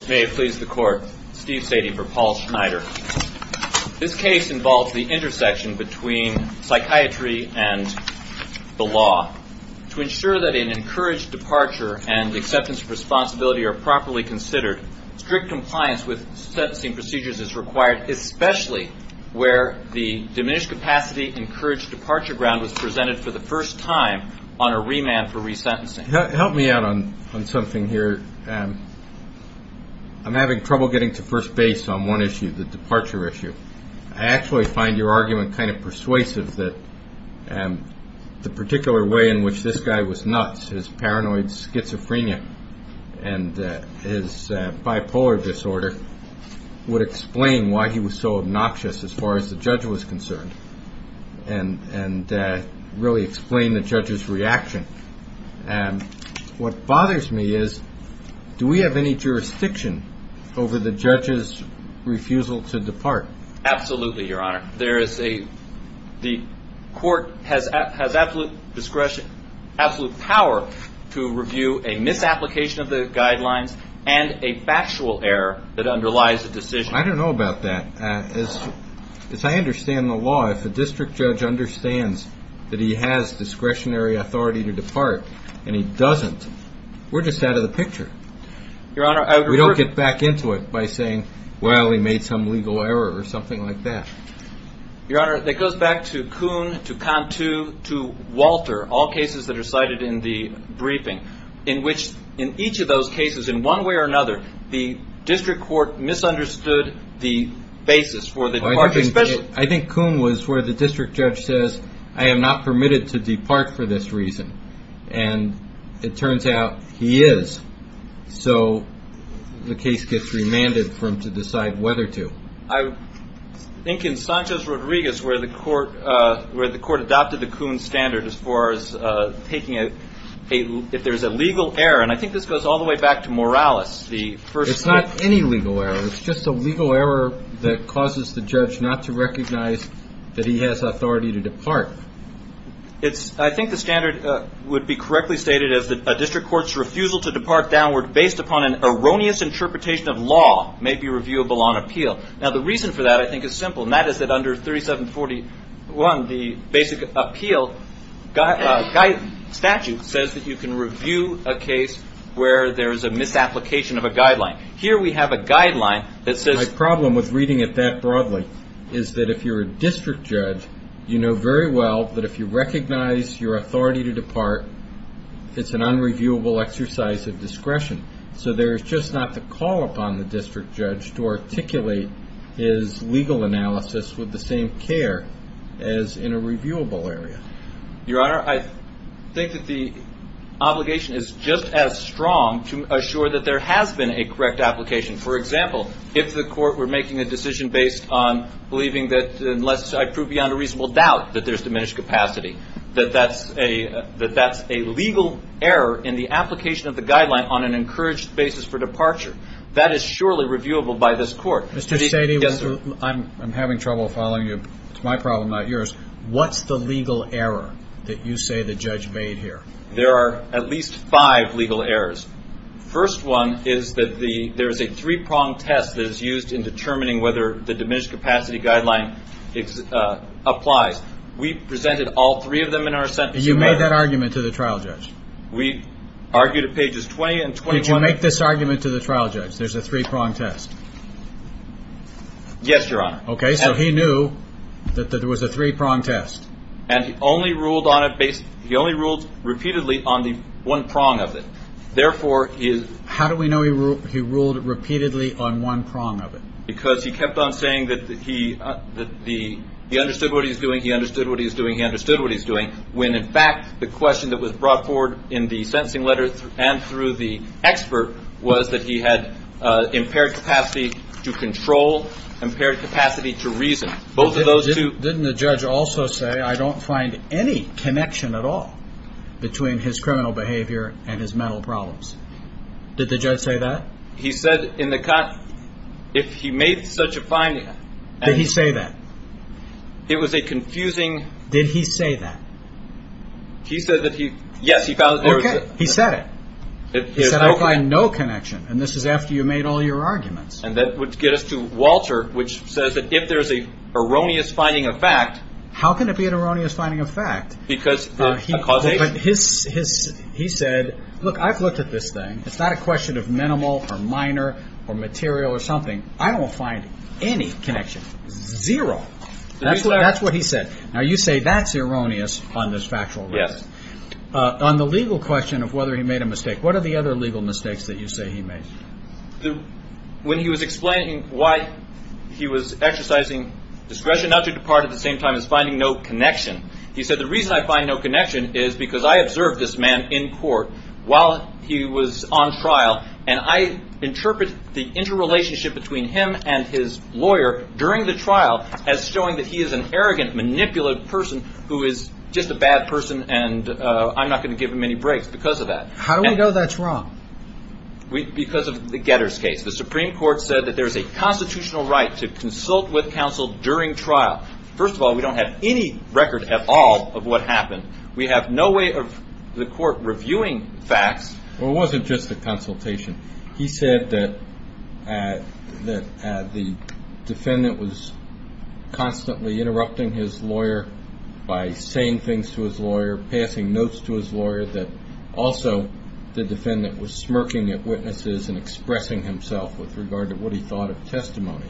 This case involves the intersection between psychiatry and the law. To ensure that an encouraged departure and acceptance of responsibility are properly considered, strict compliance with sentencing procedures is required, especially where the diminished capacity encouraged departure ground was presented for the first time on a remand for resentencing. Help me out on something here. I'm having trouble getting to first base on one issue, the departure issue. I actually find your argument kind of persuasive that the particular way in which this guy was nuts, his paranoid schizophrenia and his bipolar disorder would explain why he was so obnoxious as far as the judge was concerned and really explain the judge's reaction. What bothers me is do we have any jurisdiction over the judge's refusal to depart? Absolutely, your honor. The court has absolute discretion, absolute power to review a misapplication of the guidelines and a factual error that underlies a decision. I don't know about that. As I understand the law, if a district judge understands that he has discretionary authority to depart and he doesn't, we're just out of the picture. We don't get back into it by saying, well, he made some legal error or something like that. Your honor, that goes back to Kuhn, to Cantu, to Walter, all cases that are cited in the briefing, in which in each of those cases, in one way or another, the district court misunderstood the basis for the departure. I think Kuhn was where the district judge says, I am not permitted to depart for this reason. And it turns out he is. So the case gets remanded for him to decide whether to. I think in Sanchez-Rodriguez, where the court adopted the Kuhn standard as far as taking it, if there's a legal error, and I think this goes all the way back to Morales. It's not any legal error. It's just a legal error that causes the judge not to recognize that he has authority to depart. I think the standard would be correctly stated as that a district court's refusal to depart downward based upon an erroneous interpretation of law may be reviewable on appeal. Now, the reason for that, I think, is simple, and that is that under 3741, the basic appeal statute says that you can review a case where there is a misapplication of a guideline. Here we have a guideline that says... My problem with reading it that broadly is that if you're a district judge, you know very well that if you recognize your authority to depart, it's an unreviewable exercise of discretion. So there's just not the call upon the district judge to articulate his legal analysis with the same care as in a reviewable area. Your Honor, I think that the obligation is just as strong to assure that there has been a correct application. For example, if the court were making a decision based on believing that unless I prove beyond a reasonable doubt that there's diminished capacity, that that's a legal error in the application of the guideline on an encouraged basis for departure, that is surely reviewable by this court. Mr. Sadie, I'm having trouble following you. It's my problem, not yours. What's the legal error that you say the judge made here? There are at least five legal errors. First one is that there is a three-prong test that is used in determining whether the diminished capacity guideline applies. We presented all three of them in our sentencing letter. And you made that argument to the trial judge? We argued at pages 20 and 21. You'll make this argument to the trial judge, there's a three-prong test? Yes, Your Honor. Okay, so he knew that there was a three-prong test. And he only ruled on it based – he only ruled repeatedly on the one prong of it. Therefore, his – How do we know he ruled repeatedly on one prong of it? Because he kept on saying that he understood what he was doing, he understood what he was doing, he understood what he was doing, when, in fact, the question that was brought forward in the sentencing letter and through the expert was that he had impaired capacity to control, impaired capacity to reason. Both of those two – Didn't the judge also say, I don't find any connection at all between his criminal behavior and his mental problems? Did the judge say that? He said in the – if he made such a finding – Did he say that? It was a confusing – Did he say that? He said that he – yes, he found that there was a – Okay, he said it. He said, I find no connection. And this is after you made all your arguments. And that would get us to Walter, which says that if there's an erroneous finding of fact – How can it be an erroneous finding of fact? Because the – But his – he said, look, I've looked at this thing. It's not a question of minimal or minor or material or something. I don't find any connection. Zero. That's what he said. Now, you say that's erroneous on this factual basis. Yes. On the legal question of whether he made a mistake, what are the other legal mistakes that you say he made? When he was explaining why he was exercising discretion not to depart at the same time as finding no connection, he said, the reason I find no connection is because I observed this man in court while he was on trial, and I interpret the interrelationship between him and his lawyer during the trial as showing that he is an arrogant, manipulative person who is just a bad person, and I'm not going to give him any breaks because of that. How do we know that's wrong? Because of the Getters case. The Supreme Court said that there's a constitutional right to consult with counsel during trial. First of all, we don't have any record at all of what happened. We have no way of the court reviewing facts. Well, it wasn't just a consultation. He said that the defendant was constantly interrupting his lawyer by saying things to his lawyer, passing notes to his lawyer, that also the defendant was smirking at witnesses and expressing himself with regard to what he thought of testimony.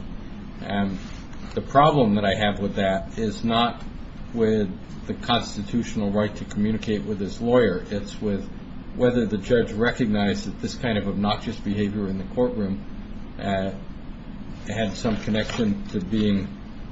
And the problem that I have with that is not with the constitutional right to communicate with his lawyer. It's with whether the judge recognized that this kind of obnoxious behavior in the courtroom had some connection to being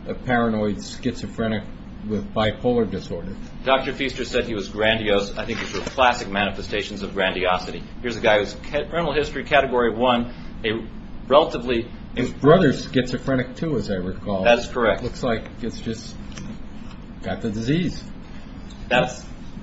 a paranoid schizophrenic with bipolar disorder. Dr. Feaster said he was grandiose. I think it's the classic manifestations of grandiosity. Here's a guy who's criminal history category one, a relatively – His brother's schizophrenic, too, as I recall. That's correct. Looks like it's just got the disease.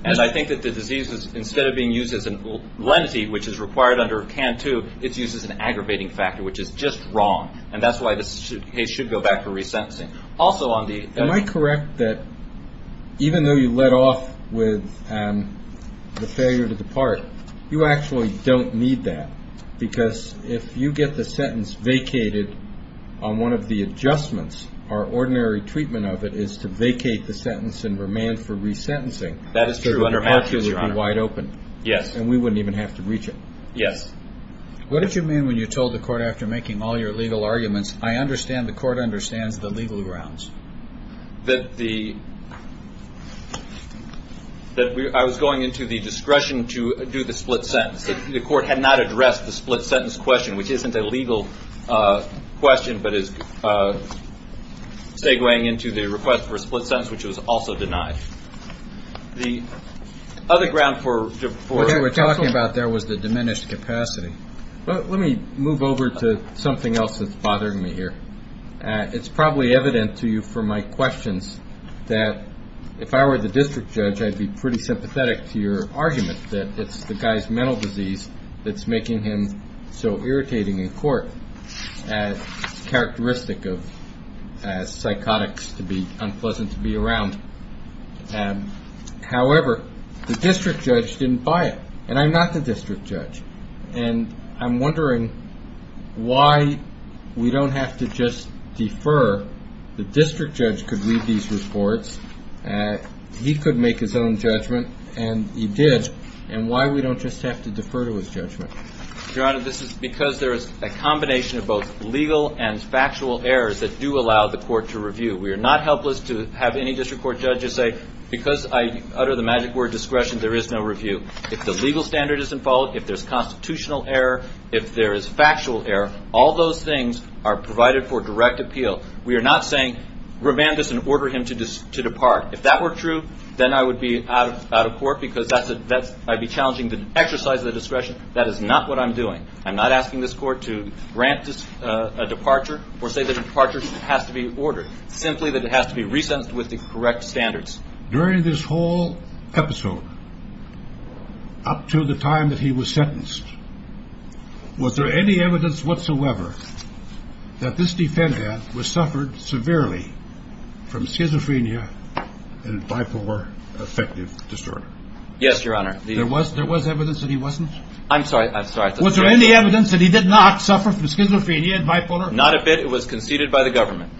And I think that the disease, instead of being used as a lenity, which is required under CANT 2, it's used as an aggravating factor, which is just wrong. And that's why this case should go back to resentencing. Also on the – Am I correct that even though you let off with the failure to depart, you actually don't need that? Because if you get the sentence vacated on one of the adjustments, our ordinary treatment of it is to vacate the sentence and remand for resentencing. That is true under Matthews, Your Honor. Because the court would be wide open. Yes. And we wouldn't even have to reach it. Yes. What did you mean when you told the court after making all your legal arguments, I understand the court understands the legal grounds? That the – that I was going into the discretion to do the split sentence. The court had not addressed the split sentence question, which isn't a legal question, but is segueing into the request for a split sentence, which was also denied. The other ground for – What you were talking about there was the diminished capacity. Let me move over to something else that's bothering me here. It's probably evident to you from my questions that if I were the district judge, I'd be pretty sympathetic to your argument that it's the guy's mental disease that's making him so irritating in court, characteristic of psychotics to be unpleasant to be around. However, the district judge didn't buy it, and I'm not the district judge. And I'm wondering why we don't have to just defer. The district judge could read these reports. He could make his own judgment, and he did. And why we don't just have to defer to his judgment. Your Honor, this is because there is a combination of both legal and factual errors that do allow the court to review. We are not helpless to have any district court judges say, because I utter the magic word discretion, there is no review. If the legal standard isn't followed, if there's constitutional error, if there is factual error, all those things are provided for direct appeal. We are not saying remand this and order him to depart. If that were true, then I would be out of court because I'd be challenging the exercise of the discretion. That is not what I'm doing. I'm not asking this court to grant a departure or say that a departure has to be ordered, simply that it has to be resentenced with the correct standards. During this whole episode up to the time that he was sentenced, was there any evidence whatsoever that this defendant was suffered severely from schizophrenia and bipolar affective disorder? Yes, Your Honor. There was evidence that he wasn't? I'm sorry. Was there any evidence that he did not suffer from schizophrenia and bipolar? Not a bit. It was conceded by the government.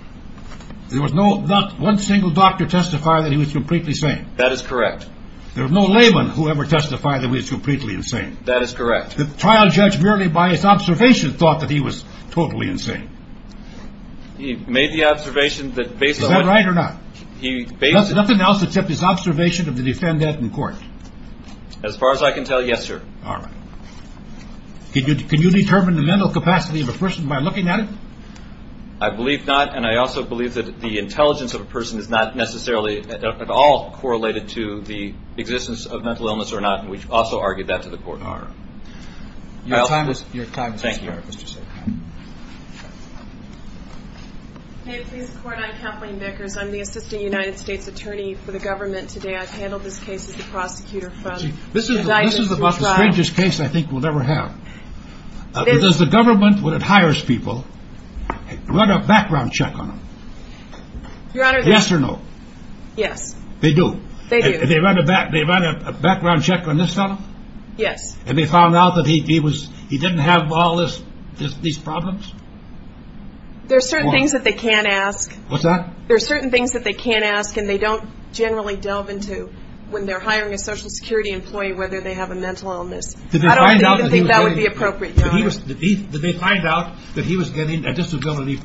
There was not one single doctor testify that he was completely sane? That is correct. There was no layman who ever testified that he was completely insane? That is correct. The trial judge merely by his observation thought that he was totally insane? He made the observation that based on... Is that right or not? He based... Nothing else except his observation of the defendant in court? As far as I can tell, yes, sir. All right. Can you determine the mental capacity of a person by looking at it? I believe not. And I also believe that the intelligence of a person is not necessarily at all correlated to the existence of mental illness or not. And we've also argued that to the court in our... Your time is expired. Thank you, Mr. Secretary. Hey, please support. I'm Kathleen Vickers. I'm the assistant United States attorney for the government today. I've handled this case as the prosecutor from... This is about the strangest case I think we'll ever have. Does the government, when it hires people, run a background check on them? Your Honor... Yes or no? Yes. They do? They do. They run a background check on this fellow? Yes. And they found out that he didn't have all these problems? There are certain things that they can't ask. What's that? There are certain things that they can't ask and they don't generally delve into when they're hiring a Social Security employee whether they have a mental illness. I don't even think that would be appropriate, Your Honor. Did they find out that he was getting a disability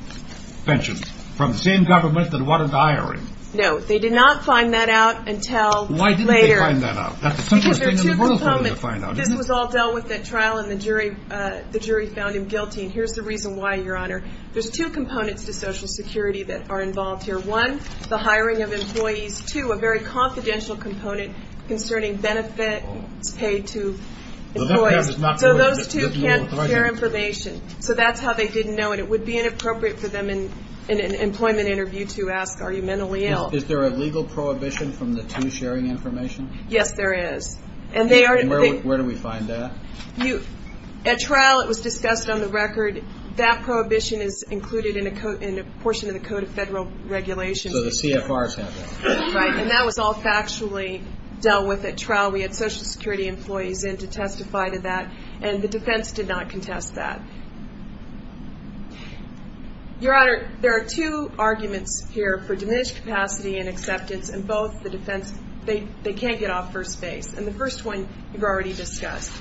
pension from the same government that wanted to hire him? No. They did not find that out until later. Why didn't they find that out? Because there are two components. This was all dealt with at trial and the jury found him guilty, and here's the reason why, Your Honor. There's two components to Social Security that are involved here. One, the hiring of employees. Two, a very confidential component concerning benefits paid to employees. So those two can't share information. So that's how they didn't know, and it would be inappropriate for them in an employment interview to ask, are you mentally ill? Is there a legal prohibition from the two sharing information? Yes, there is. And where do we find that? At trial it was discussed on the record. That prohibition is included in a portion of the Code of Federal Regulations. So the CFRs have that. Right, and that was all factually dealt with at trial. We had Social Security employees in to testify to that, and the defense did not contest that. Your Honor, there are two arguments here for diminished capacity and acceptance, and both the defense, they can't get off first base. And the first one you've already discussed.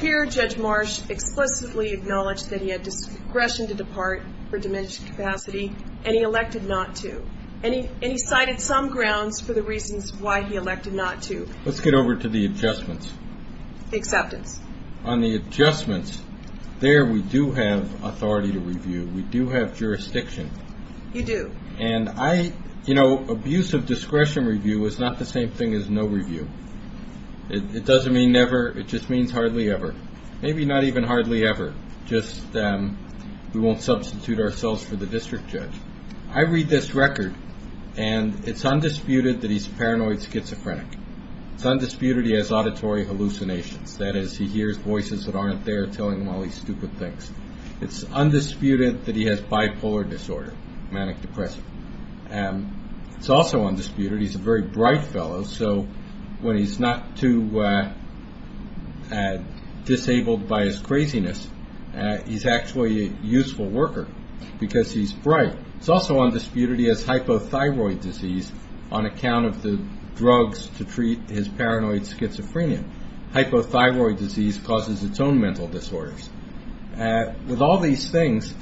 Here Judge Marsh explicitly acknowledged that he had discretion to depart for diminished capacity, and he elected not to. And he cited some grounds for the reasons why he elected not to. Let's get over to the adjustments. Acceptance. On the adjustments, there we do have authority to review. We do have jurisdiction. You do. And I, you know, abuse of discretion review is not the same thing as no review. It doesn't mean never, it just means hardly ever. Maybe not even hardly ever, just we won't substitute ourselves for the district judge. I read this record, and it's undisputed that he's a paranoid schizophrenic. It's undisputed he has auditory hallucinations. That is, he hears voices that aren't there telling him all these stupid things. It's undisputed that he has bipolar disorder, manic-depressive. It's also undisputed he's a very bright fellow, so when he's not too disabled by his craziness, he's actually a useful worker because he's bright. It's also undisputed he has hypothyroid disease on account of the drugs to treat his paranoid schizophrenia. Hypothyroid disease causes its own mental disorders. With all these things,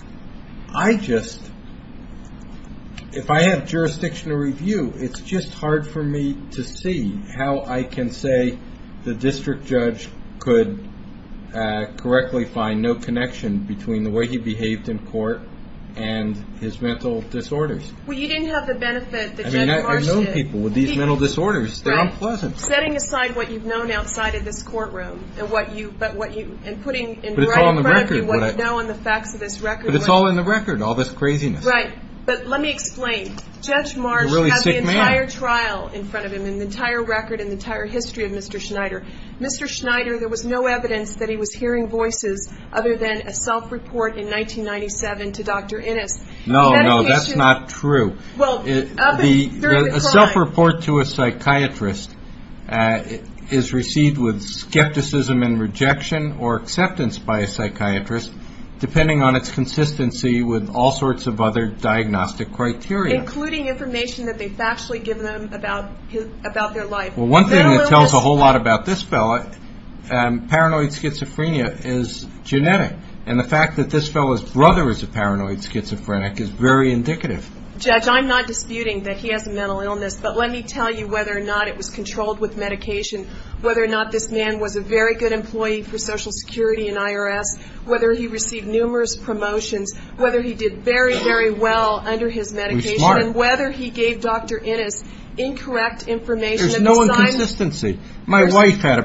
I just, if I have jurisdiction to review, it's just hard for me to see how I can say the district judge could correctly find no connection between the way he behaved in court and his mental disorders. Well, you didn't have the benefit that Judge Marsh did. I mean, I've known people with these mental disorders. They're unpleasant. Setting aside what you've known outside of this courtroom and what you, and putting in front of you what you know and the facts of this record. But it's all in the record, all this craziness. Right, but let me explain. Judge Marsh has the entire trial in front of him and the entire record and the entire history of Mr. Schneider. Mr. Schneider, there was no evidence that he was hearing voices other than a self-report in 1997 to Dr. Innes. No, no, that's not true. A self-report to a psychiatrist is received with skepticism and rejection or acceptance by a psychiatrist depending on its consistency with all sorts of other diagnostic criteria. Including information that they've factually given him about their life. Well, one thing that tells a whole lot about this fellow, paranoid schizophrenia is genetic. And the fact that this fellow's brother is a paranoid schizophrenic is very indicative. Judge, I'm not disputing that he has a mental illness, but let me tell you whether or not it was controlled with medication, whether or not this man was a very good employee for Social Security and IRS, whether he received numerous promotions, whether he did very, very well under his medication. He was smart. And whether he gave Dr. Innes incorrect information. There's no inconsistency. My wife had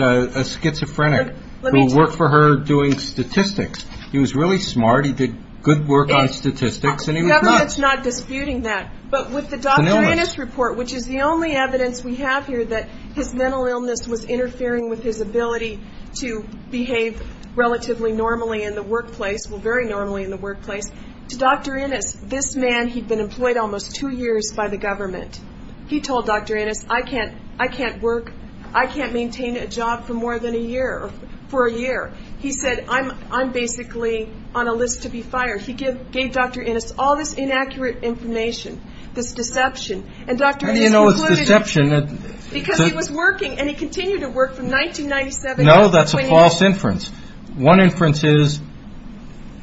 a schizophrenic who worked for her doing statistics. He was really smart. He did good work on statistics. The government's not disputing that. But with the Dr. Innes report, which is the only evidence we have here that his mental illness was interfering with his ability to behave relatively normally in the workplace, well, very normally in the workplace. To Dr. Innes, this man, he'd been employed almost two years by the government. He told Dr. Innes, I can't work, I can't maintain a job for more than a year, for a year. He said, I'm basically on a list to be fired. He gave Dr. Innes all this inaccurate information, this deception. And Dr. Innes included it. Because he was working, and he continued to work from 1997 to 2018. No, that's a false inference. One inference is,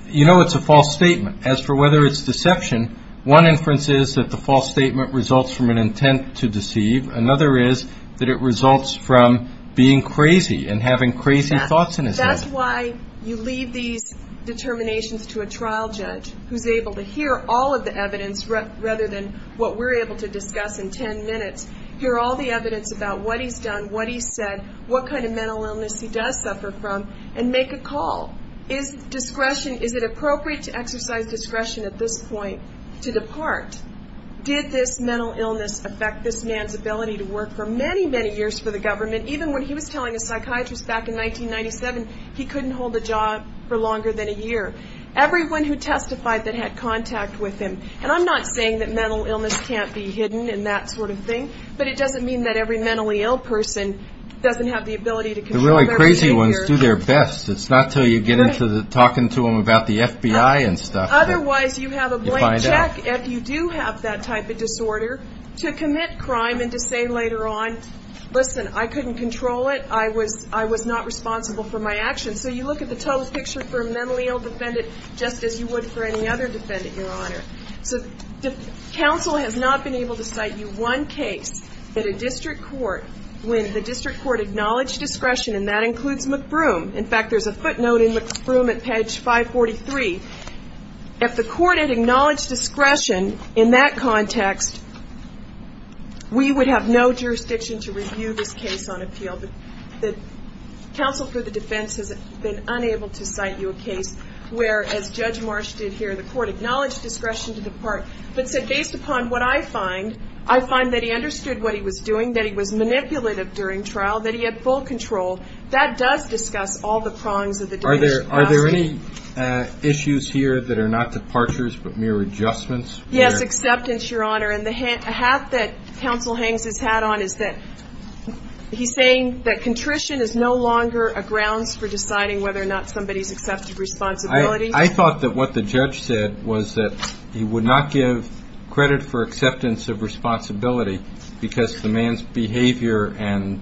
you know it's a false statement. As for whether it's deception, one inference is that the false statement results from an intent to deceive. Another is that it results from being crazy and having crazy thoughts in his head. That's why you leave these determinations to a trial judge, who's able to hear all of the evidence rather than what we're able to discuss in ten minutes. Hear all the evidence about what he's done, what he's said, what kind of mental illness he does suffer from, and make a call. Is discretion, is it appropriate to exercise discretion at this point to depart? Did this mental illness affect this man's ability to work for many, many years for the government? Even when he was telling a psychiatrist back in 1997, he couldn't hold a job for longer than a year. Everyone who testified that had contact with him, and I'm not saying that mental illness can't be hidden and that sort of thing, but it doesn't mean that every mentally ill person doesn't have the ability to control their behavior. The really crazy ones do their best. It's not until you get into talking to them about the FBI and stuff that you find out. Otherwise, you have a blank check if you do have that type of disorder to commit crime and to say later on, listen, I couldn't control it. I was not responsible for my actions. And so you look at the total picture for a mentally ill defendant just as you would for any other defendant, Your Honor. So counsel has not been able to cite you one case at a district court when the district court acknowledged discretion, and that includes McBroom. In fact, there's a footnote in McBroom at page 543. If the court had acknowledged discretion in that context, we would have no jurisdiction to review this case on appeal. Counsel for the defense has been unable to cite you a case where, as Judge Marsh did here, the court acknowledged discretion to depart, but said, based upon what I find, I find that he understood what he was doing, that he was manipulative during trial, that he had full control. That does discuss all the prongs of the departure process. Are there any issues here that are not departures but mere adjustments? Yes, acceptance, Your Honor. And the hat that counsel hangs his hat on is that he's saying that contrition is no longer a grounds for deciding whether or not somebody's accepted responsibility. I thought that what the judge said was that he would not give credit for acceptance of responsibility because the man's behavior and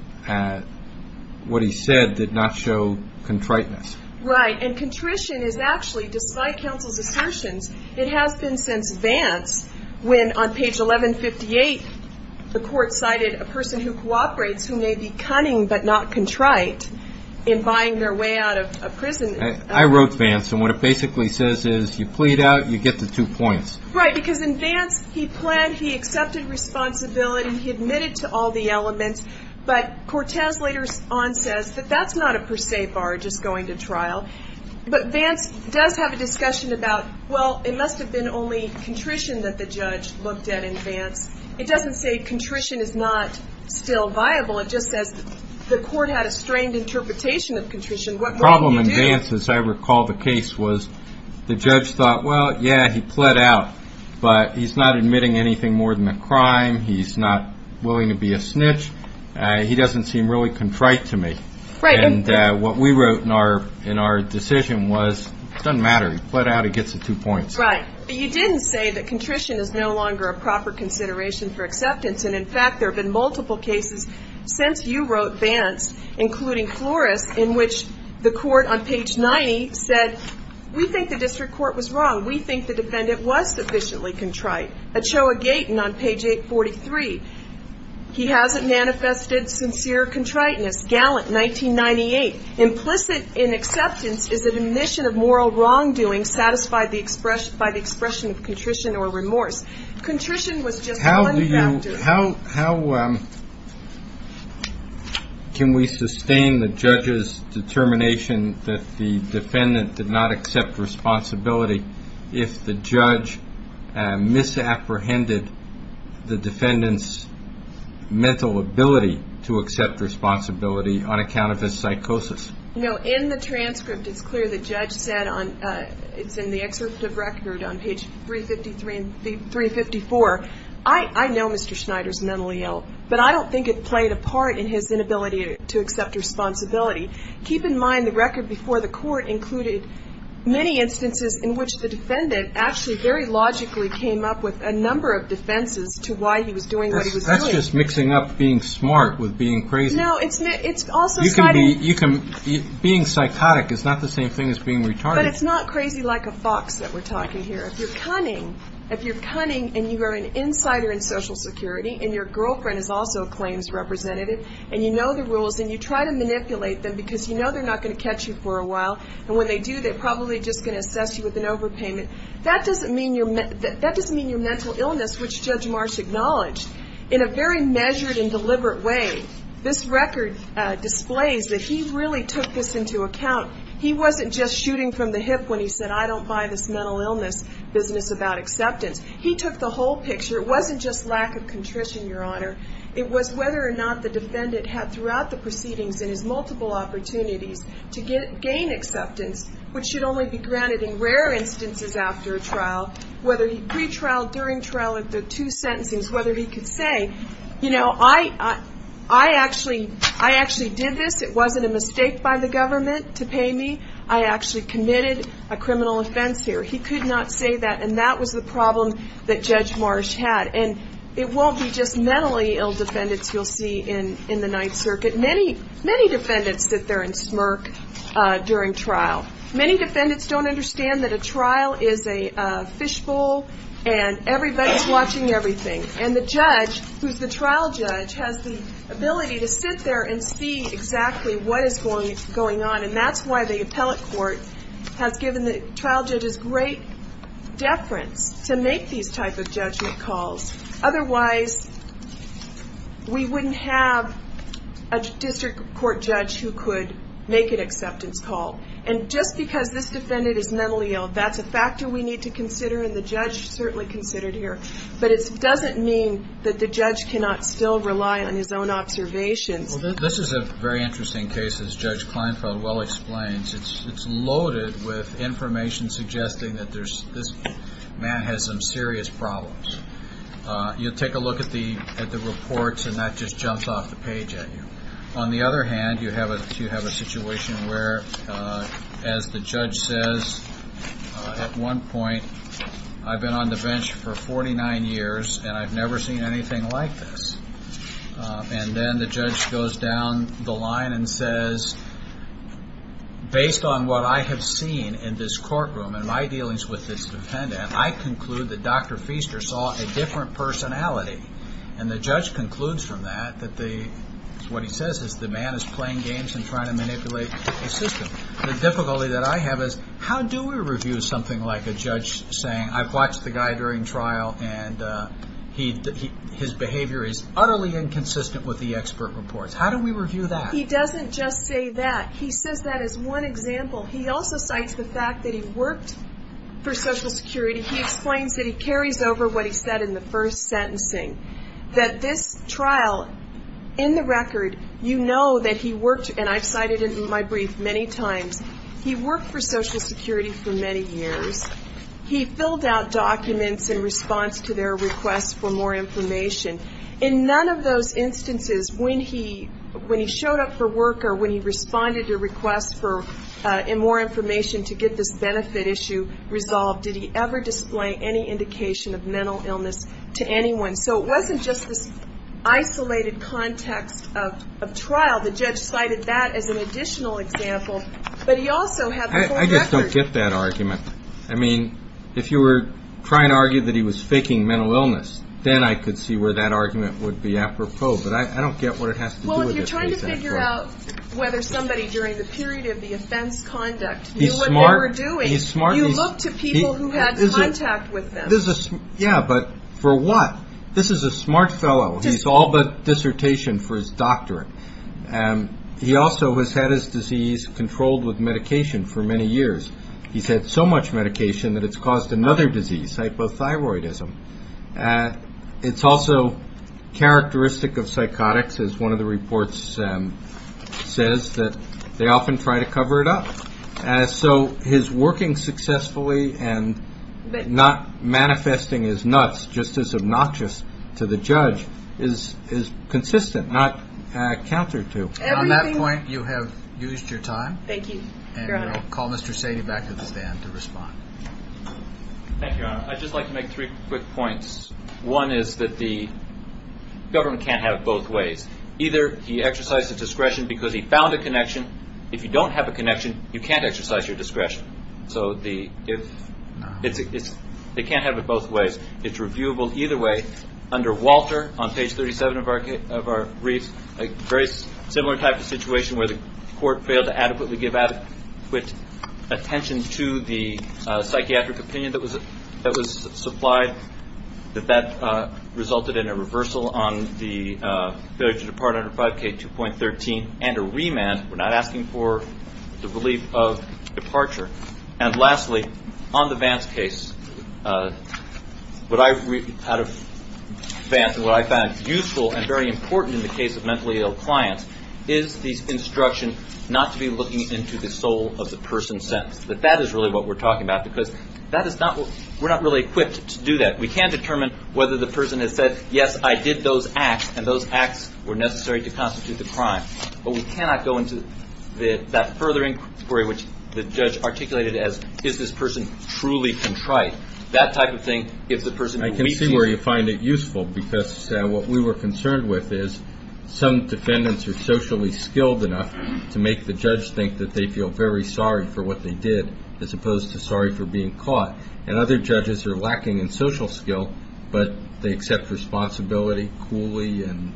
what he said did not show contriteness. Right. And contrition is actually, despite counsel's assertions, it has been since Vance when, on page 1158, the court cited a person who cooperates who may be cunning but not contrite in buying their way out of prison. I wrote Vance, and what it basically says is you plead out, you get the two points. Right, because in Vance he planned, he accepted responsibility, he admitted to all the elements, but Cortez later on says that that's not a per se bar just going to trial. But Vance does have a discussion about, well, it must have been only contrition that the judge looked at in Vance. It doesn't say contrition is not still viable. It just says the court had a strained interpretation of contrition. The problem in Vance, as I recall the case, was the judge thought, well, yeah, he pled out, but he's not admitting anything more than a crime. He's not willing to be a snitch. He doesn't seem really contrite to me. Right. And what we wrote in our decision was it doesn't matter. He pled out, he gets the two points. Right. But you didn't say that contrition is no longer a proper consideration for acceptance. And, in fact, there have been multiple cases since you wrote Vance, including Flores in which the court on page 90 said, we think the district court was wrong. We think the defendant was sufficiently contrite. Ochoa Gaten on page 843, he hasn't manifested sincere contriteness. Gallant, 1998, implicit in acceptance is an admission of moral wrongdoing satisfied by the expression of contrition or remorse. Contrition was just one factor. How can we sustain the judge's determination that the defendant did not accept responsibility if the judge misapprehended the defendant's mental ability to accept responsibility on account of his psychosis? You know, in the transcript, it's clear the judge said, it's in the excerpt of record on page 353 and 354, I know Mr. Schneider's mentally ill, but I don't think it played a part in his inability to accept responsibility. Keep in mind, the record before the court included many instances in which the defendant actually very logically came up with a number of defenses to why he was doing what he was doing. That's just mixing up being smart with being crazy. No, it's also kind of – You can be – being psychotic is not the same thing as being retarded. But it's not crazy like a fox that we're talking here. If you're cunning, if you're cunning and you are an insider in Social Security and your girlfriend is also a claims representative and you know the rules and you try to manipulate them because you know they're not going to catch you for a while, and when they do, they're probably just going to assess you with an overpayment, that doesn't mean you're – that doesn't mean you're mental illness, which Judge Marsh acknowledged. In a very measured and deliberate way, this record displays that he really took this into account. He wasn't just shooting from the hip when he said, I don't buy this mental illness business about acceptance. He took the whole picture. It wasn't just lack of contrition, Your Honor. It was whether or not the defendant had throughout the proceedings in his multiple opportunities to gain acceptance, which should only be granted in rare instances after a trial, whether he pre-trialed, during trial, if there are two sentencings, whether he could say, you know, I actually did this. It wasn't a mistake by the government to pay me. I actually committed a criminal offense here. He could not say that, and that was the problem that Judge Marsh had. And it won't be just mentally ill defendants you'll see in the Ninth Circuit. Many defendants sit there and smirk during trial. Many defendants don't understand that a trial is a fishbowl, and everybody's watching everything. And the judge, who's the trial judge, has the ability to sit there and see exactly what is going on, and that's why the appellate court has given the trial judges great deference to make these type of judgment calls. Otherwise, we wouldn't have a district court judge who could make an acceptance call. And just because this defendant is mentally ill, that's a factor we need to consider, and the judge certainly considered here. But it doesn't mean that the judge cannot still rely on his own observations. This is a very interesting case, as Judge Kleinfeld well explains. It's loaded with information suggesting that this man has some serious problems. You'll take a look at the reports, and that just jumps off the page at you. On the other hand, you have a situation where, as the judge says, at one point, I've been on the bench for 49 years, and I've never seen anything like this. And then the judge goes down the line and says, based on what I have seen in this courtroom and my dealings with this defendant, I conclude that Dr. Feaster saw a different personality. And the judge concludes from that that the man is playing games and trying to manipulate the system. The difficulty that I have is, how do we review something like a judge saying, I've watched the guy during trial, and his behavior is utterly inconsistent with the expert reports? How do we review that? He doesn't just say that. He says that as one example. He also cites the fact that he worked for Social Security. He explains that he carries over what he said in the first sentencing, that this trial, in the record, you know that he worked, and I've cited it in my brief many times, he worked for Social Security for many years. He filled out documents in response to their request for more information. In none of those instances, when he showed up for work or when he responded to requests for more information to get this benefit issue resolved, did he ever display any indication of mental illness to anyone. So it wasn't just this isolated context of trial. The judge cited that as an additional example, but he also had the full record. I mean, if you were trying to argue that he was faking mental illness, then I could see where that argument would be apropos, but I don't get what it has to do with the case at all. Well, if you're trying to figure out whether somebody during the period of the offense conduct knew what they were doing, you look to people who had contact with them. Yeah, but for what? This is a smart fellow. He's all but dissertation for his doctorate. He also has had his disease controlled with medication for many years. He's had so much medication that it's caused another disease, hypothyroidism. It's also characteristic of psychotics, as one of the reports says, that they often try to cover it up. So his working successfully and not manifesting his nuts just as obnoxious to the judge is consistent, not counter to. On that point, you have used your time. Thank you, Your Honor. I'll call Mr. Saini back to the stand to respond. Thank you, Your Honor. I'd just like to make three quick points. One is that the government can't have it both ways. Either he exercised his discretion because he found a connection. If you don't have a connection, you can't exercise your discretion. So they can't have it both ways. It's reviewable either way. Under Walter, on page 37 of our brief, a very similar type of situation where the court failed to adequately give adequate attention to the psychiatric opinion that was supplied, that that resulted in a reversal on the failure to depart under 5K2.13 and a remand. We're not asking for the relief of departure. And lastly, on the Vance case, what I found useful and very important in the case of mentally ill clients is the instruction not to be looking into the soul of the person's sentence. But that is really what we're talking about because we're not really equipped to do that. We can't determine whether the person has said, yes, I did those acts, and those acts were necessary to constitute the crime. But we cannot go into that further inquiry which the judge articulated as, is this person truly contrite? That type of thing, if the person we see. I can see where you find it useful because what we were concerned with is some defendants are socially skilled enough to make the judge think that they feel very sorry for what they did as opposed to sorry for being caught. And other judges are lacking in social skill, but they accept responsibility coolly and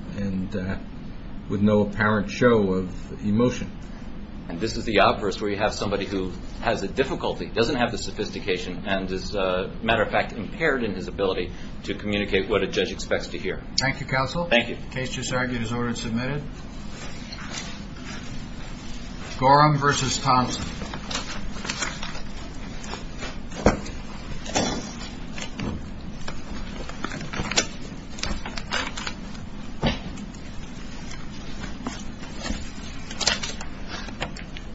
with no apparent show of emotion. And this is the obverse where you have somebody who has a difficulty, doesn't have the sophistication, and is, as a matter of fact, impaired in his ability to communicate what a judge expects to hear. Thank you, counsel. Thank you. The case just argued is ordered and submitted. Gorham versus Thompson.